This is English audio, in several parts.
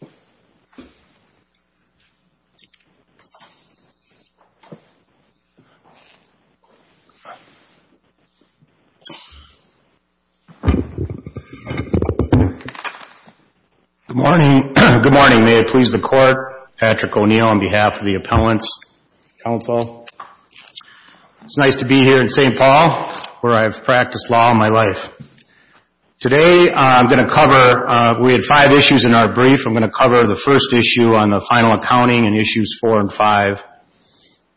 Good morning. May it please the Court. Patrick O'Neill on behalf of the Appellants Council. It's nice to be here in St. Paul where I've practiced law all my life. Today I'm going to cover, we had five issues in our brief. I'm going to cover the first issue on the final accounting in issues four and five.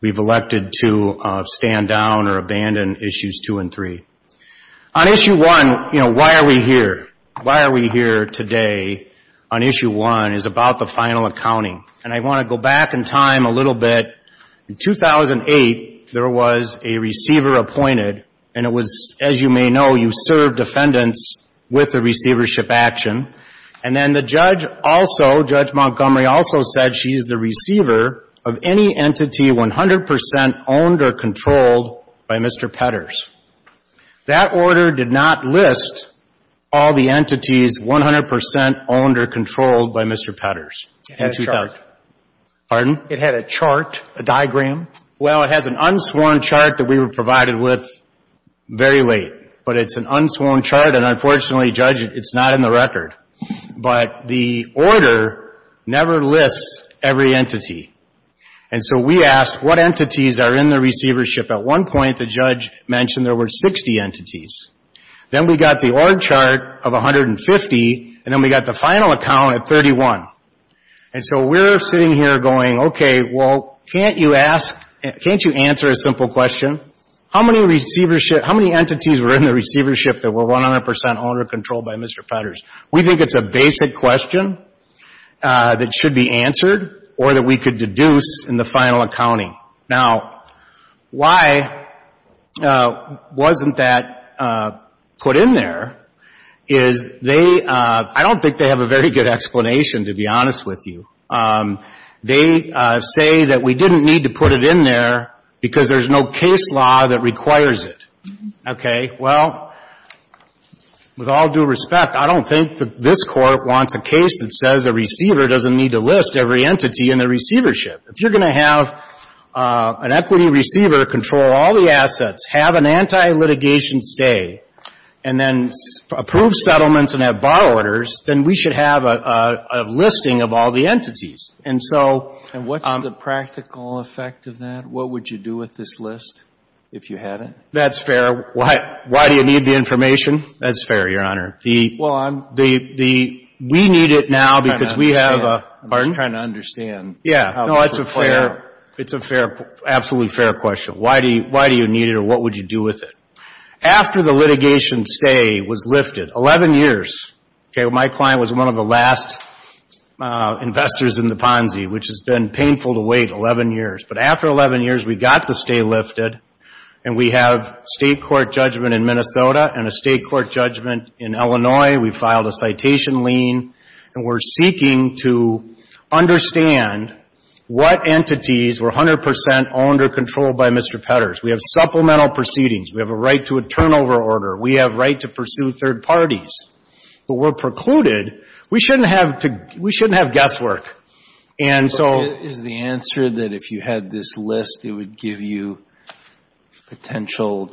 We've elected to stand down or abandon issues two and three. On issue one, you know, why are we here? Why are we here today on issue one is about the final accounting. And I want to go back in time a little bit. In 2008, there was a receiver appointed and it was, as you may know, you served defendants with a receivership action. And then the judge also, Judge Montgomery also said she's the receiver of any entity 100 percent owned or controlled by Mr. Petters. That order did not list all the entities 100 percent owned or controlled by Mr. Petters in 2000. It had a chart. Pardon? It had a chart, a diagram. Well, it has an unsworn chart that we were provided with very late. But it's an unsworn chart and unfortunately, Judge, it's not in the record. But the order never lists every entity. And so we asked what entities are in the receivership. At one point, the judge mentioned there were 60 entities. Then we got the org chart of 150 and then we got the final account at 31. And so we're sitting here going, okay, well, can't you ask, can't you answer a simple question? How many entities were in the receivership that were 100 percent owned or controlled by Mr. Petters? We think it's a basic question that should be answered or that we could deduce in the final accounting. Now, why wasn't that put in there is they, I don't think they have a very good explanation, to be honest with you. They say that we didn't need to put it in there because there's no case law that requires it. Okay. Well, with all due respect, I don't think that this Court wants a case that says a receiver doesn't need to list every entity in the receivership. If you're going to have an equity receiver control all the assets, have an anti-litigation stay, and then approve settlements and have borrow orders, then we should have a listing of all the entities. And so — And what's the practical effect of that? What would you do with this list if you had it? That's fair. Why do you need the information? That's fair, Your Honor. The — Well, I'm — The — we need it now because we have a — I'm just trying to understand — Pardon? I'm just trying to understand how this would play out. Yeah. No, it's a fair — it's a fair — absolutely fair question. Why do you need it or what would you do with it? After the litigation stay was lifted, 11 years — okay, my client was one of the last investors in the Ponzi, which has been painful to wait, 11 years. But after 11 years, we got the stay lifted, and we have state court judgment in Minnesota and a state court judgment in Illinois. We filed a citation lien, and we're seeking to understand what entities were 100 percent owned or controlled by Mr. Petters. We have supplemental proceedings. We have a right to a turnover order. We have a right to pursue third parties. But we're precluded. We shouldn't have to — we shouldn't have guesswork. And so — Is the answer that if you had this list, it would give you potential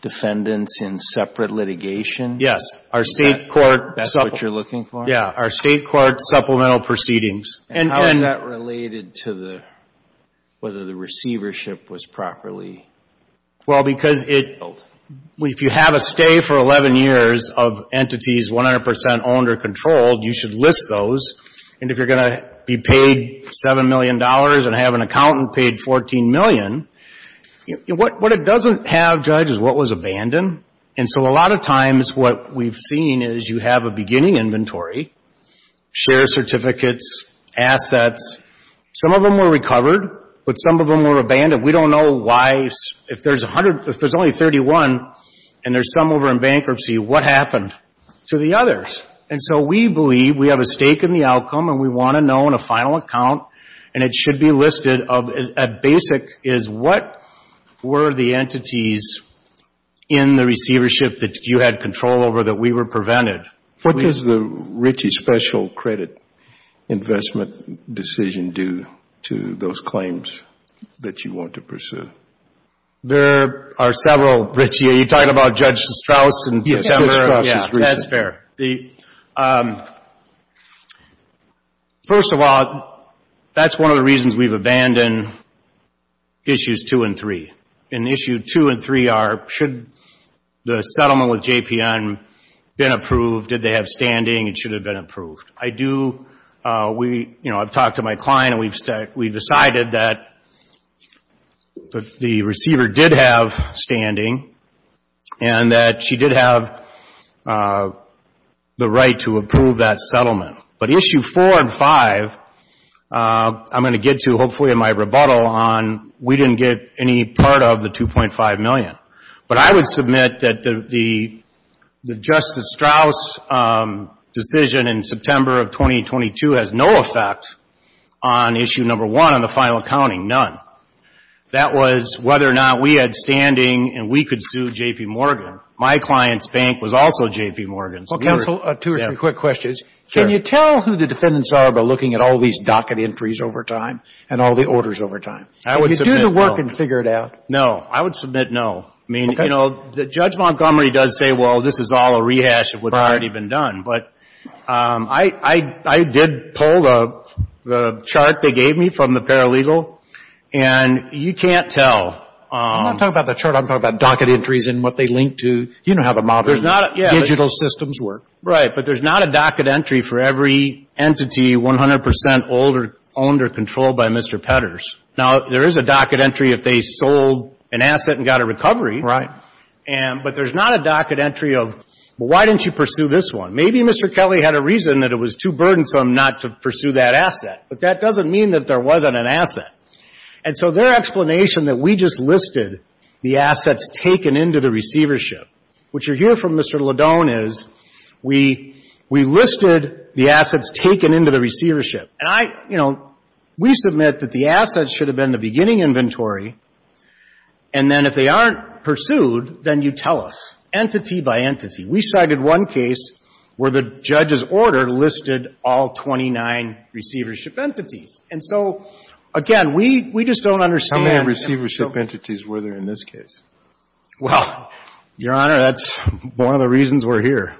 defendants in separate litigation? Yes. Our state court — Is that what you're looking for? Yeah. Our state court supplemental proceedings. And — How is that related to the — whether the receivership was properly built? Well, because if you have a stay for 11 years of entities 100 percent owned or controlled, you should list those. And if you're going to be paid $7 million and have an accountant paid $14 million, what it doesn't have, Judge, is what was abandoned. And so a lot of times what we've seen is you have a beginning inventory, share certificates, assets. Some of them were recovered, but some of them were abandoned. We don't know why — if there's a hundred — if there's only 31, and there's some over in bankruptcy, what happened to the others? And so we believe we have a stake in the outcome, and we want to know in a final account. And it should be listed of — at basic is what were the entities in the receivership that you had control over that we were prevented? What does the Ritchie special credit investment decision do to those claims that you want to pursue? There are several, Ritchie. Are you talking about Judge Strauss in September? Yes, Judge Strauss was recent. Yeah, that's fair. The — first of all, that's one of the reasons we've abandoned Issues 2 and 3. In Issue 2 and 3 are, should the settlement with JPN been approved? Did they have standing? It should have been approved. I do — we — you know, I've talked to my client, and we've decided that the receiver did have standing, and that she did have the buttle on — we didn't get any part of the $2.5 million. But I would submit that the Justice Strauss decision in September of 2022 has no effect on Issue Number 1 on the final accounting, none. That was whether or not we had standing, and we could sue J.P. Morgan. My client's bank was also J.P. Morgan's. Well, counsel, two or three quick questions. Sure. Can you tell who the defendants are by looking at all these docket entries over time and all the orders over time? I would submit no. Can you do the work and figure it out? No. I would submit no. I mean, you know, Judge Montgomery does say, well, this is all a rehash of what's already been done. Right. But I did pull the chart they gave me from the paralegal, and you can't tell. I'm not talking about the chart. I'm talking about docket entries and what they link to. You know how the modern digital systems work. Right. But there's not a docket entry for every entity 100 percent owned or controlled by Mr. Petters. Now, there is a docket entry if they sold an asset and got a recovery. Right. But there's not a docket entry of, well, why didn't you pursue this one? Maybe Mr. Kelly had a reason that it was too burdensome not to pursue that asset. But that doesn't mean that there wasn't an asset. And so their explanation that we just listed the assets taken into the receivership, which you'll hear from Mr. Ledone, is we listed the assets taken into the receivership. And I, you know, we submit that the assets should have been the beginning inventory, and then if they aren't pursued, then you tell us entity by entity. We cited one case where the judge's order listed all 29 receivership entities. And so, again, we just don't understand. How many receivership entities were there in this case? Well, Your Honor, that's one of the reasons we're here.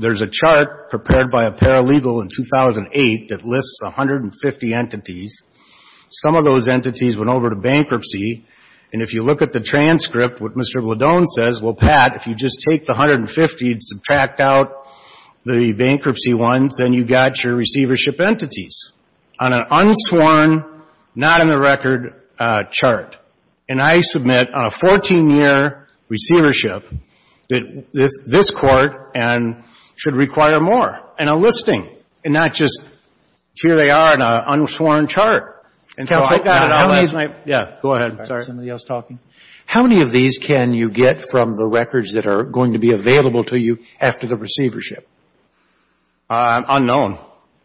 There's a chart prepared by a paralegal in 2008 that lists 150 entities. Some of those entities went over to bankruptcy. And if you look at the transcript, what Mr. Ledone says, well, Pat, if you just take the 150 and subtract out the bankruptcy ones, then you've got your receivership entities on an unsworn, not-in-the-record chart. And I submit on a 14-year receivership that this court should require more, and a listing, and not just, here they are on an unsworn chart. And so I got it on last night. Yeah. Go ahead. Sorry. Somebody else talking? How many of these can you get from the records that are going to be available to you after the receivership? Unknown.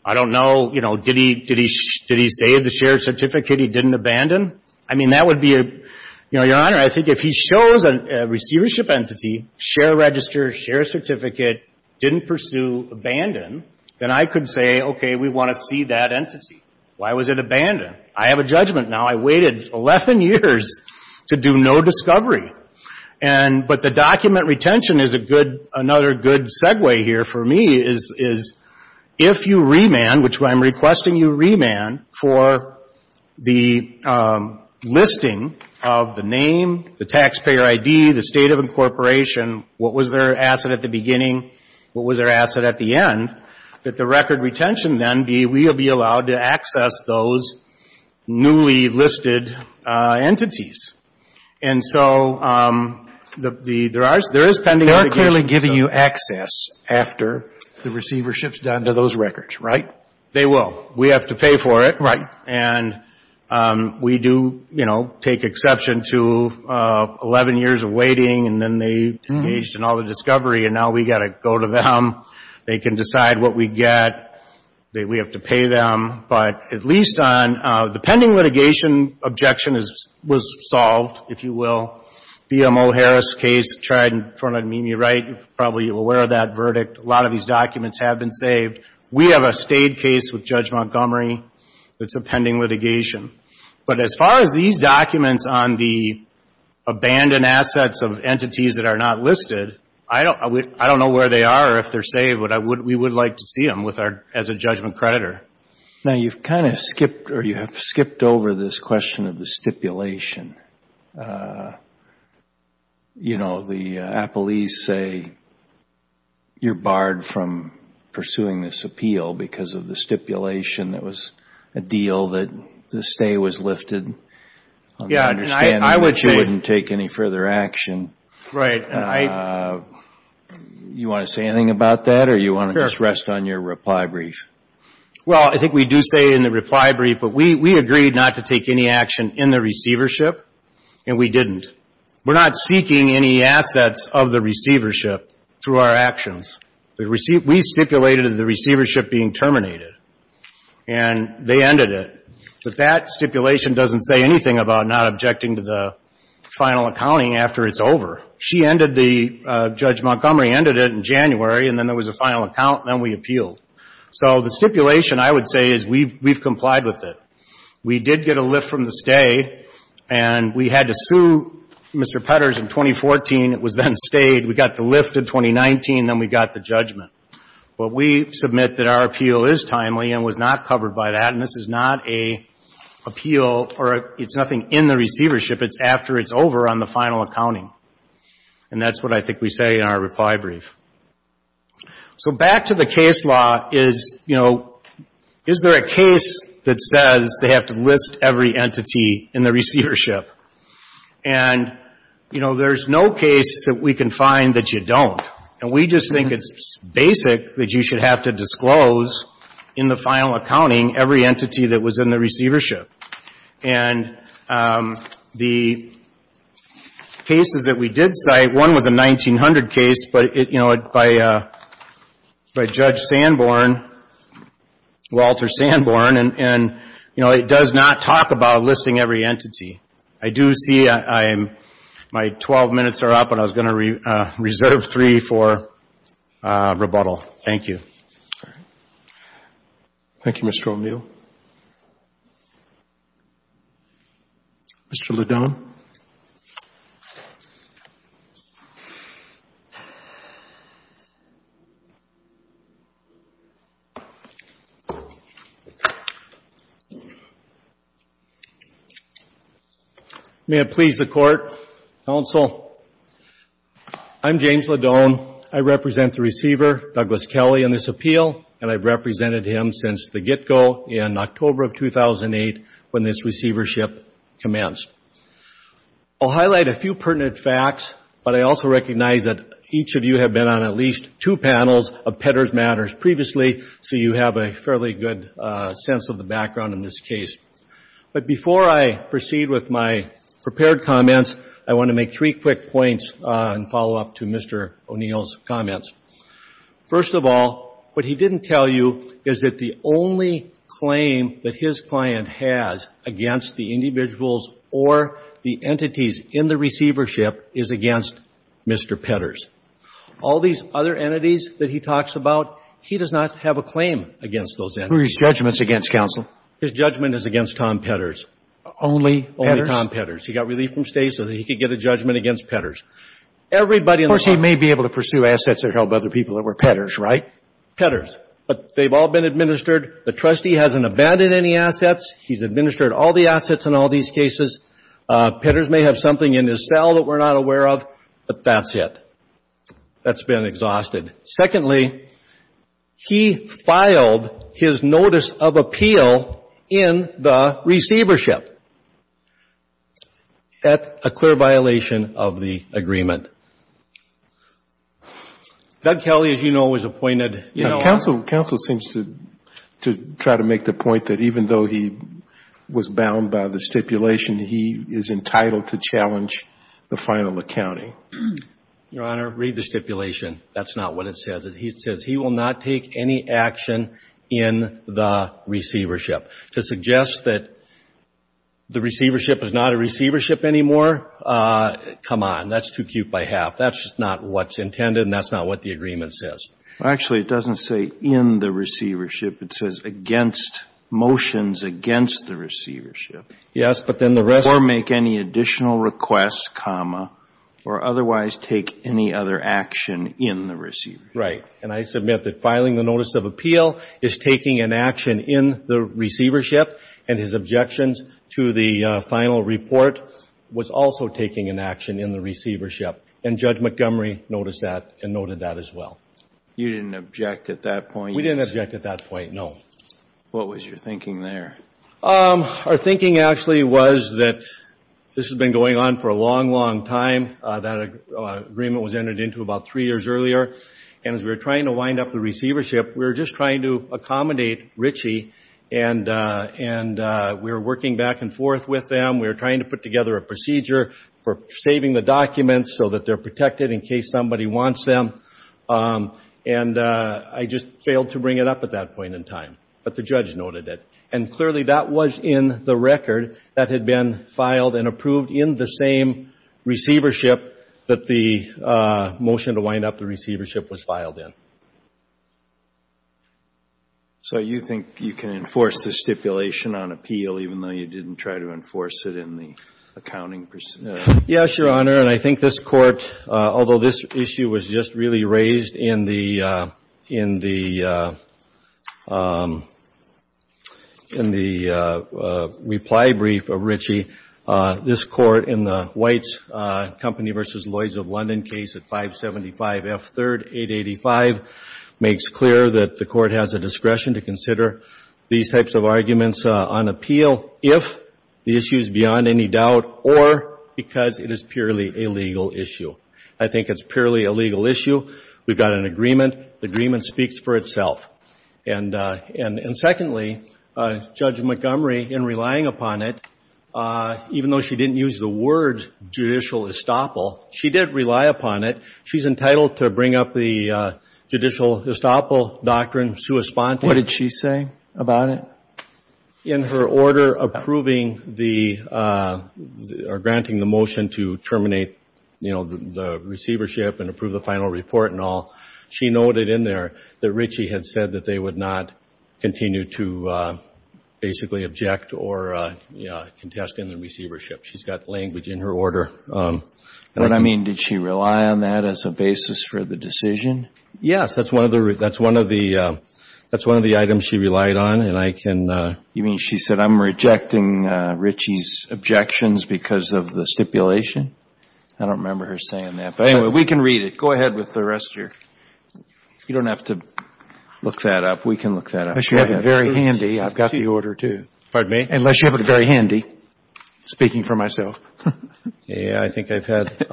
I don't know, you know, did he save the shared certificate he didn't abandon? I mean, that would be a, you know, Your Honor, I think if he shows a receivership entity, share register, share certificate, didn't pursue, abandoned, then I could say, okay, we want to see that entity. Why was it abandoned? I have a judgment now. I waited 11 years to do no discovery. And, but the document retention is a good, another good segue here for me is if you remand, which I'm requesting you remand for the listing of the name, the taxpayer ID, the state of incorporation, what was their asset at the beginning, what was their asset at the end, that the record retention then be, we'll be allowed to access those newly listed entities. And so the, there are, there is pending litigation. They are clearly giving you access after the receivership's done to those records, right? They will. We have to pay for it. Right. And we do, you know, take exception to 11 years of waiting and then they engaged in all the discovery and now we've got to go to them. They can decide what we get. We have to pay them. But at least on the pending litigation, objection is, was solved, if you will. BMO Harris case tried in front of Mimi Wright, you're probably aware of that verdict. A lot of these documents have been saved. We have a state case with Judge Montgomery that's a pending litigation. But as far as these documents on the abandoned assets of entities that are not listed, I don't, I don't know where they are or if they're saved, but we would like to see them with our, as a judgment creditor. Now, you've kind of skipped or you have skipped over this question of the stipulation. You know, the appellees say you're barred from pursuing this appeal because of the stipulation that was a deal that the stay was lifted on the understanding that you wouldn't take any further action. Right. And I, you want to say anything about that or you want to just rest on your reply brief? Well, I think we do say in the reply brief, but we, we agreed not to take any action in the receivership and we didn't. We're not seeking any assets of the receivership through our actions. We stipulated the receivership being terminated and they ended it. But that stipulation doesn't say anything about not objecting to the final accounting after it's over. She ended the, Judge Montgomery ended it in January and then there was a final account and then we appealed. So the stipulation I would say is we've, we've complied with it. We did get a lift from the stay and we had to sue Mr. Petters in 2014. It was then stayed. We got the lift in 2019 and then we got the judgment. But we submit that our appeal is timely and was not covered by that. And this is not a appeal or it's nothing in the receivership. It's after it's over on the final accounting. And that's what I think we say in our reply brief. So back to the case law is, you know, is there a case that says they have to list every entity in the receivership? And, you know, there's no case that we can find that you don't. And we just think it's basic that you should have to disclose in the final accounting every entity. The cases that we did cite, one was a 1900 case, but it, you know, by, by Judge Sanborn, Walter Sanborn, and, and, you know, it does not talk about listing every entity. I do see I am, my 12 minutes are up and I was going to reserve three for rebuttal. Thank you. All right. Thank you, Mr. O'Neill. Mr. Ledone. May it please the Court, Counsel, I'm James Ledone. I represent the receiver, Douglas Kelly, in this appeal, and I've represented him since the get-go in October of 2008 when this receivership commenced. I'll highlight a few pertinent facts, but I also recognize that each of you have been on at least two panels of Petters Matters previously, so you have a fairly good sense of the background in this case. But before I proceed with my prepared comments, I want to make three quick points in follow-up to Mr. O'Neill's comments. First of all, what he didn't tell you is that the only claim that his client has against the individuals or the entities in the receivership is against Mr. Petters. All these other entities that he talks about, he does not have a claim against those entities. Who are his judgments against, Counsel? His judgment is against Tom Petters. Only Petters? Only Tom Petters. He got relief from State so that he could get a judgment against Petters. Of course, he may be able to pursue assets that help other people that were Petters, right? Petters. But they've all been administered. The trustee hasn't abandoned any assets. He's administered all the assets in all these cases. Petters may have something in his cell that we're not aware of, but that's it. That's been exhausted. Secondly, he filed his notice of appeal in the receivership at a clear violation of the agreement. Doug Kelly, as you know, was appointed. Counsel seems to try to make the point that even though he was bound by the stipulation, he is entitled to challenge the final accounting. Your Honor, read the stipulation. That's not what it says. It says he will not take any action in the receivership. To suggest that the receivership is not a receivership anymore, come on. That's too cute by half. That's not what's intended and that's not what the agreement says. Actually, it doesn't say in the receivership. It says against motions against the receivership. Yes, but then the rest Or make any additional requests, comma, or otherwise take any other action in the receivership. Right. And I submit that filing the notice of appeal is taking an action in the was also taking an action in the receivership. And Judge Montgomery noticed that and noted that as well. You didn't object at that point. We didn't object at that point, no. What was your thinking there? Our thinking actually was that this has been going on for a long, long time. That agreement was entered into about three years earlier. And as we were trying to wind up the receivership, we were just trying to accommodate Richie and we were working back and forth with them. We were trying to put together a procedure for saving the documents so that they're protected in case somebody wants them. And I just failed to bring it up at that point in time. But the judge noted it. And clearly that was in the record that had been filed and approved in the same receivership that the motion to wind up the receivership was filed in. So you think you can enforce the stipulation on appeal even though you didn't try to enforce it in the accounting procedure? Yes, Your Honor. And I think this Court, although this issue was just really raised in the reply brief of Richie, this Court in the White's Company v. Lloyd's of London case at 575 F. 3rd, 885, makes clear that the Court has a discretion to consider these types of arguments on appeal if the issue is beyond any doubt or because it is purely a legal issue. I think it's purely a legal issue. We've got an agreement. The agreement speaks for itself. And secondly, Judge Montgomery, in relying upon it, even though she didn't use the word judicial estoppel, she did rely upon it. She's entitled to bring up the judicial estoppel doctrine. What did she say about it? In her order granting the motion to terminate the receivership and approve the final report and all, she noted in there that Richie had said that they would not continue to basically object or contest in the receivership. She's got language in her order. What I mean, did she rely on that as a basis for the decision? Yes. That's one of the items she relied on, and I can You mean she said, I'm rejecting Richie's objections because of the stipulation? I don't remember her saying that. But anyway, we can read it. Go ahead with the rest of your You don't have to look that up. We can look that up. Unless you have it very handy. I've got the order, too. Pardon me? Unless you have it very handy. Speaking for myself. I think I've had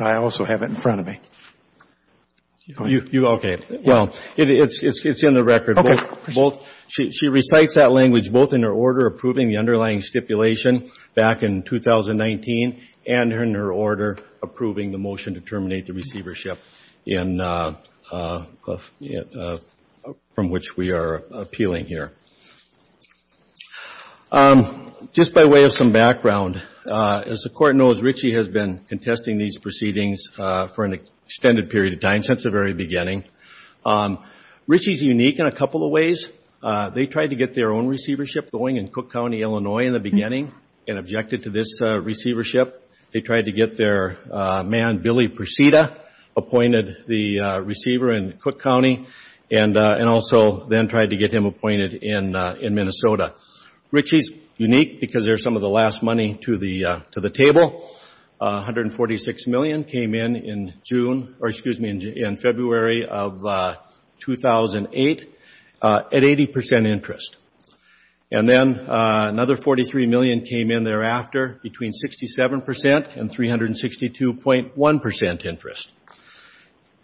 I also have it in front of me. Okay. Well, it's in the record. Okay. She recites that language both in her order approving the underlying stipulation back in 2019 and in her order approving the motion to terminate the receivership from which we are appealing here. Just by way of some background, as the Court knows, Richie has been contesting these proceedings for an extended period of time since the very beginning. Richie's unique in a couple of ways. They tried to get their own receivership going in Cook County, Illinois, in the beginning and objected to this receivership. They tried to get their man, Billy Perseda, appointed the receiver in Cook County and also then tried to get him appointed in Minnesota. Richie's unique because there's some of the last money to the table. $146 million came in in June or excuse me, in February of 2008 at 80% interest. And then another $43 million came in thereafter between 67% and 362.1% interest.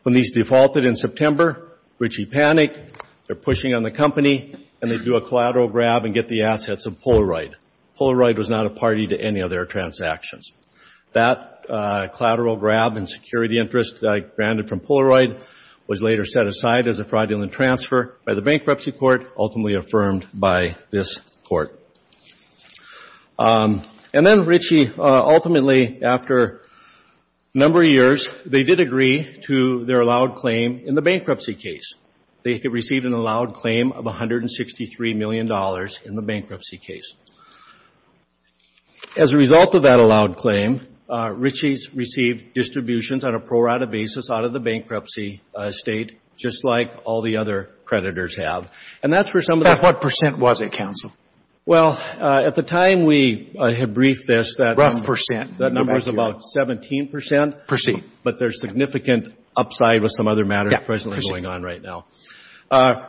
When these defaulted in September, Richie panicked. They're pushing on the company and they do a collateral grab and get the assets of Polaroid. Polaroid was not a party to any of their transactions. That collateral grab and security interest granted from Polaroid was later set aside as a fraudulent transfer by the Bankruptcy Court, ultimately affirmed by this Court. And then Richie, ultimately, after a number of years, they did agree to their allowed claim in the bankruptcy case. They received an allowed claim of $163 million in the bankruptcy case. As a result of that allowed claim, Richie's received distributions on a pro-rata basis out of the bankruptcy estate, just like all the other creditors have. And that's for some of the... At what percent was it, counsel? Well, at the time we had briefed this, that number was about 17%. But there's significant upside with some other matters presently going on right now.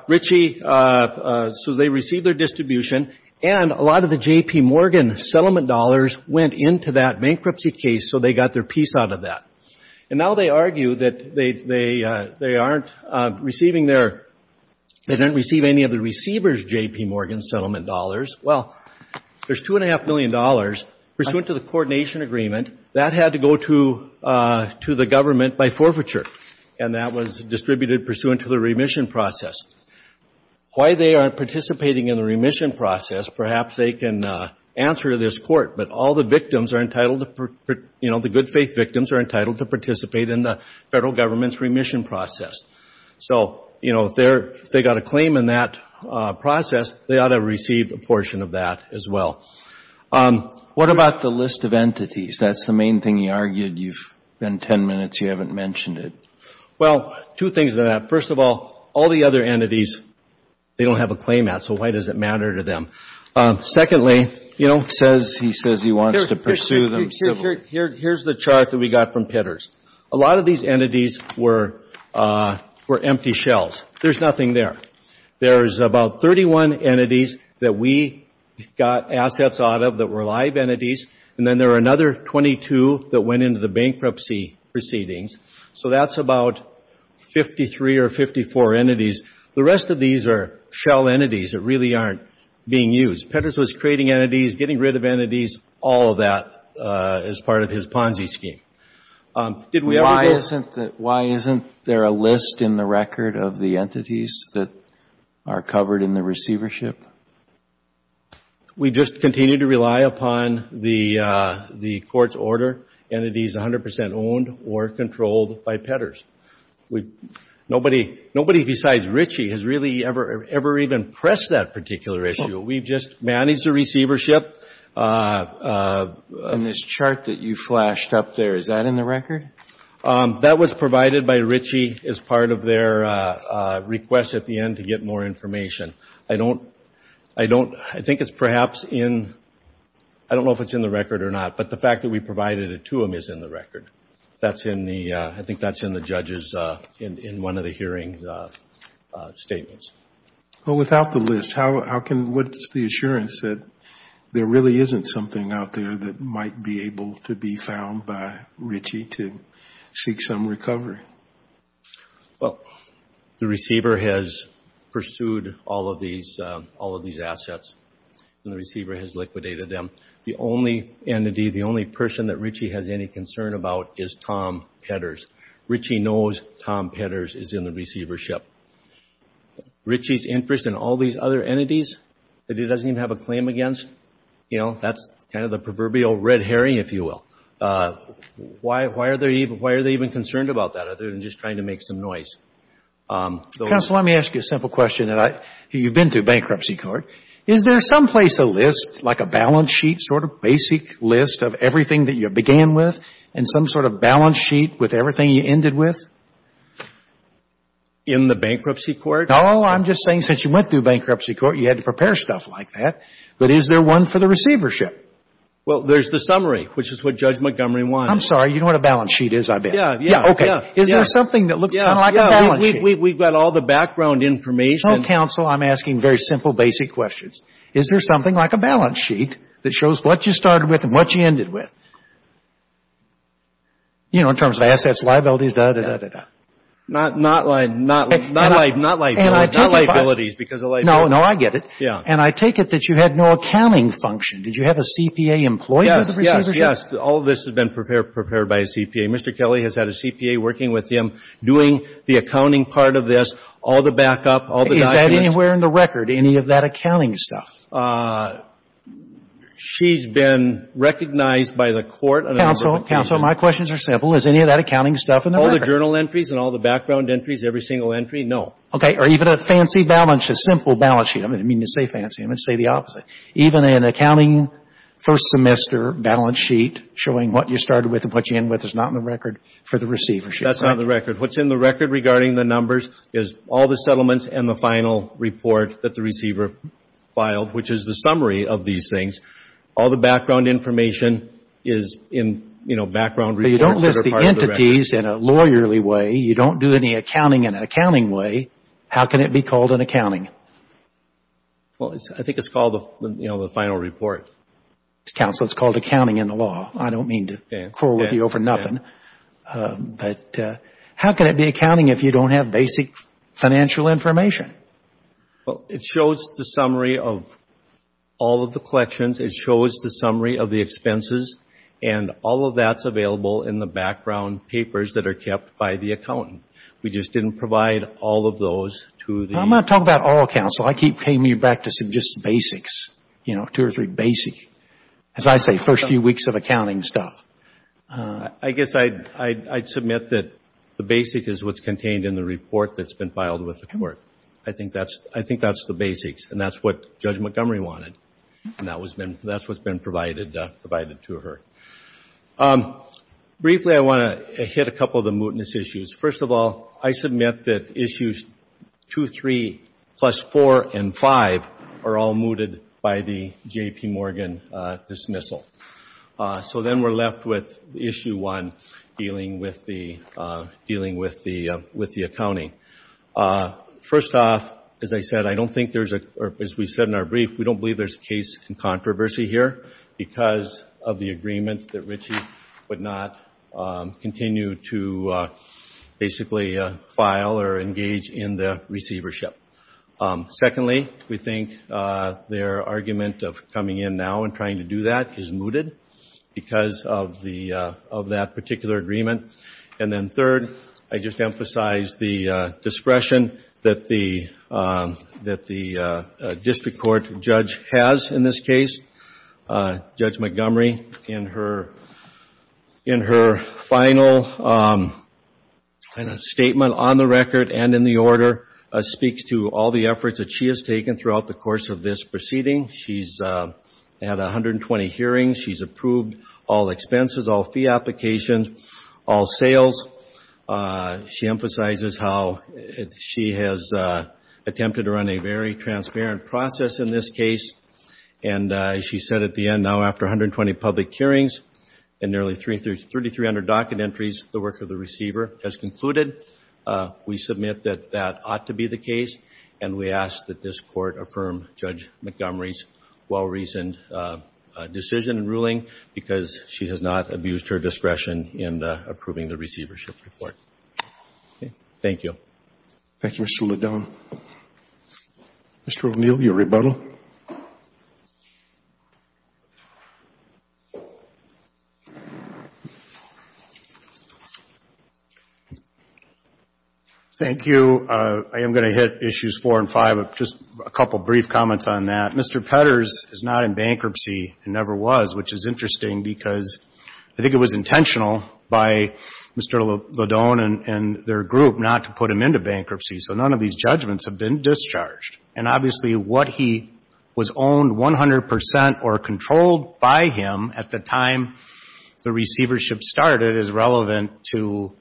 Richie, so they received their distribution and a lot of the J.P. Morgan settlement dollars went into that bankruptcy case, so they got their piece out of that. And now they argue that they aren't receiving their... They didn't receive any of the receivers' J.P. Morgan settlement dollars. Well, there's $2.5 million pursuant to the coordination agreement that had to go to the government by forfeiture, and that was distributed pursuant to the remission process. Why they aren't participating in the remission process, perhaps they can answer to this Court, but all the victims are entitled to... You know, the good-faith victims are entitled to participate in the federal government's remission process. So, you know, if they got a claim in that process, they ought to have received a portion of that as well. What about the list of entities? That's the main thing you argued. You've been 10 minutes, you haven't mentioned it. Well, two things to that. First of all, all the other entities they don't have a claim at, so why does it matter to them? Secondly, you know, he says he wants to pursue them... Here's the chart that we got from Pitters. A lot of these entities were empty shells. There's nothing there. There's about 31 entities that we got assets out of that were live entities, and then there are another 22 that went into the bankruptcy proceedings. So that's about 53 or 54 entities. The rest of these are shell entities that really aren't being used. Pitters was creating entities, getting rid of entities, all of that as part of his Ponzi scheme. Why isn't there a list in the record of the entities that are covered in the receivership? We just continue to rely upon the court's order, entities 100% owned or controlled by Pitters. Nobody besides Ritchie has really ever even pressed that particular issue. We've just managed the receivership. And this chart that you flashed up there, is that in the record? That was provided by Ritchie as part of their request at the end to get more information. I don't... I think it's perhaps in... I don't know if it's in the record or not, but the fact that we provided it to them is in the record. That's in the... I think that's in the judge's... in one of the hearing's statements. Well, without the list, how can... What's the assurance that there really isn't something out there that might be able to be found by Ritchie to seek some recovery? Well, the receiver has pursued all of these... all of these assets, and the receiver has liquidated them. The only entity, the only person that Ritchie has any concern about is Tom Petters. Ritchie knows Tom Petters is in the receivership. Ritchie's interest in all these other entities that he doesn't even have a claim against, you know, that's kind of the proverbial red herring, if you will. Why are they even concerned about that other than just trying to make some noise? Counsel, let me ask you a simple question that I... you've been through bankruptcy court. Is there some place, a list, like a balance sheet sort of basic list of everything that you began with and some sort of balance sheet with everything you ended with? In the bankruptcy court? No, I'm just saying since you went through bankruptcy court, you had to prepare stuff like that. But is there one for the receivership? Well, there's the summary, which is what Judge Montgomery wanted. I'm sorry, you know what a balance sheet is, I bet. Yeah, yeah, yeah. Is there something that looks kind of like a balance sheet? We've got all the background information. Counsel, I'm asking very simple, basic questions. Is there something like a balance sheet that shows what you started with and what you ended with? You know, in terms of assets, liabilities, da-da-da-da-da-da. Not liabilities because of liabilities. No, no, I get it. Yeah. And I take it that you had no accounting function. Did you have a CPA employed with the receivership? Yes, yes, yes. All of this had been prepared by a CPA. Mr. Kelly has had a CPA working with him doing the accounting part of this, all the backup, all the documents. Is that anywhere in the record, any of that accounting stuff? She's been recognized by the court... Counsel, counsel, my questions are simple. Is any of that accounting stuff in the record? All the journal entries and all the background entries, every single entry, no. Okay. Or even a fancy balance sheet, a simple balance sheet. I didn't mean to say fancy. I meant to say the opposite. Even an accounting first semester balance sheet showing what you started with and what you ended with is not in the record for the receivership. That's not in the record. What's in the record regarding the numbers is all the settlements and the final report that the receiver filed, which is the summary of these things. All the background information is in, you know, background reports... So you don't list the entities in a lawyerly way. You don't do any accounting in an accounting way. How can it be called an accounting? Well, I think it's called, you know, the final report. Counsel, it's called accounting in the law. I don't mean to quarrel with you over nothing. But how can it be accounting if you don't have basic financial information? Well, it shows the summary of all of the collections. It shows the summary of the expenses and all of that's available in the background papers that are kept by the accountant. We just didn't provide all of those to the... I'm not talking about all, Counsel. I came to you back to some just basics. You know, two or three basics. As I say, first few weeks of accounting stuff. I guess I'd submit that the basics is what's contained in the report that's been filed with the court. I think that's the basics. And that's what Judge Montgomery wanted. And that's what's been provided to her. Briefly, I want to hit a couple of the mootness issues. First of all, I submit that issues 2, 3, plus 4, and 5 are all mooted by the J.P. Morgan dismissal. So then we're left with issue 1, dealing with the accounting. First off, as I said, I don't think there's a... or as we said in our brief, we don't believe there's a case in controversy here because of the agreement that Ritchie would not continue to basically file or engage in the receivership. Secondly, we think their argument of coming in now and trying to do that is mooted because of that particular agreement. And then third, I just emphasize the discretion that the district court judge has in this case. Judge Montgomery, in her final statement on the record and in the order, speaks to all the efforts that she has taken throughout the course of this proceeding. She's had 120 hearings. She's approved all expenses, all fee applications, all sales. She emphasizes how she has attempted to run a very transparent process in this case, and as she said at the end, now after 120 public hearings and nearly 3,300 docket entries, the work of the receiver has concluded. We submit that that ought to be the case, and we ask that this court affirm Judge Montgomery's well-reasoned decision and ruling because she has not abused her discretion in approving the receivership report. Thank you. Thank you, Mr. Ledone. Mr. O'Neill, your rebuttal. Thank you. I am going to hit Issues 4 and 5, just a couple brief comments on that. Mr. Petters is not in bankruptcy, and never was, which is interesting because I think it was intentional by Mr. Ledone and their group not to put him into bankruptcy, so none of these judgments have been discharged, and obviously what he was owned 100% or controlled by him at the time the receivership started is relevant to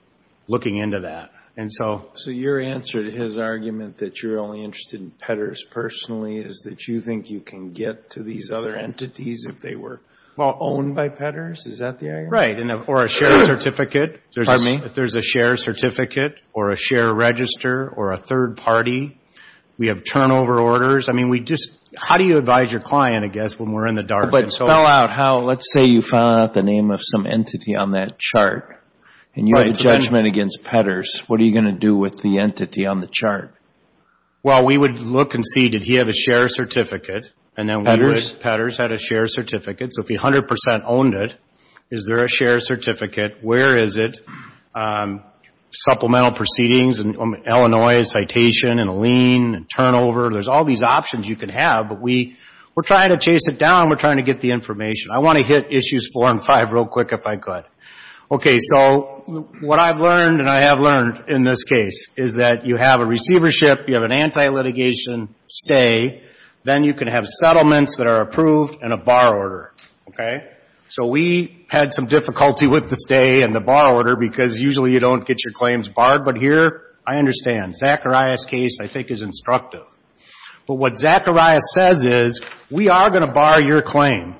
looking into that, and so... So your answer to his argument that you're only interested in Petters personally is that you think you can get to these other entities if they were owned by Petters? Is that the argument? Right, or a shared certificate. Pardon me? If there's a shared certificate or a shared register or a third party. We have turnover orders. I mean, we just... How do you advise your client, I guess, when we're in the dark? But spell out how... Let's say you found out the name of some entity on that chart, and you have a judgment against Petters. What are you going to do with the entity on the chart? Well, we would look and see, did he have a shared certificate? Petters? Petters had a shared certificate. So if he 100% owned it, is there a shared certificate? Where is it? Supplemental proceedings in Illinois, a citation and a lien and turnover. There's all these options you can have, but we're trying to chase it down. We're trying to get the information. I want to hit issues 4 and 5 real quick if I could. Okay, so what I've learned, and I have learned in this case, is that you have a receivership, you have an anti-litigation stay. Then you can have settlements that are approved and a bar order. Okay? So we had some difficulty with the stay and the bar order because usually you don't get your claims barred. But here, I understand. Zacharias' case, I think, is instructive. But what Zacharias says is, we are going to bar your claim.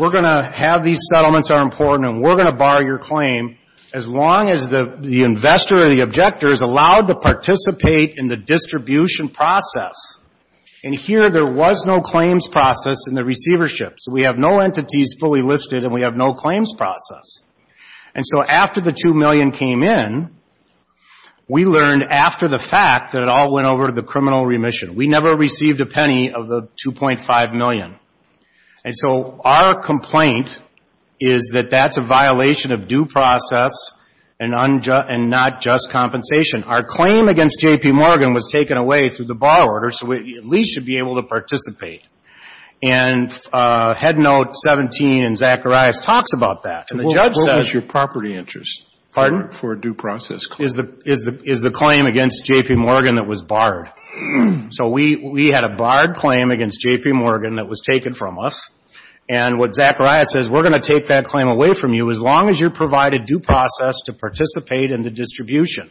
We're going to have these settlements are important, and we're going to bar your claim as long as the investor or the objector is allowed to participate in the distribution process. And here, there was no claims process in the receivership. So we have no entities fully listed and we have no claims process. And so after the $2 million came in, we learned after the fact that it all went over to the criminal remission. We never received a penny of the $2.5 million. And so our complaint is that that's a violation of due process and not just compensation. Our claim against J.P. Morgan was taken away through the bar order so we at least should be able to participate. And Head Note 17 in Zacharias talks about that. And the judge says... What was your property interest? Pardon? For a due process claim. Is the claim against J.P. Morgan that was barred. So we had a barred claim against J.P. Morgan that was taken from us. And what Zacharias says, we're going to take that claim away from you as long as you provide a due process to participate in the distribution.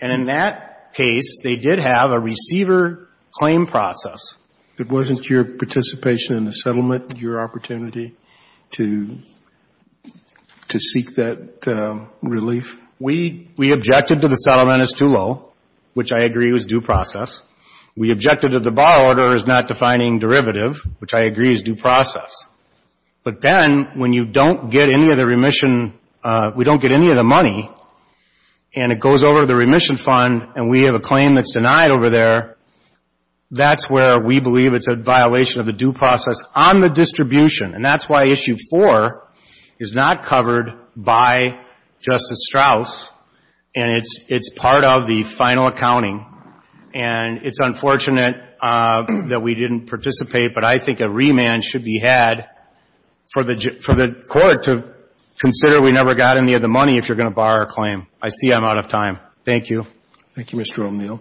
And in that case, they did have a receiver claim process. It wasn't your participation in the settlement your opportunity to to seek that relief? We objected to the settlement as too low, which I agree was due process. We objected to the bar order as not defining derivative, which I agree is due process. But then, when you don't get any of the remission, we don't get any of the money, and it goes over to the remission fund and we have a claim that's denied over there, that's where we believe it's a violation of the due process on the distribution. And that's why Issue 4 is not covered by Justice Strauss. And it's part of the final accounting. And it's unfortunate that we didn't participate, but I think a remand should be had for the court to consider we never got any of the money if you're going to bar a claim. I see I'm out of time. Thank you. Thank you, Mr. O'Neill.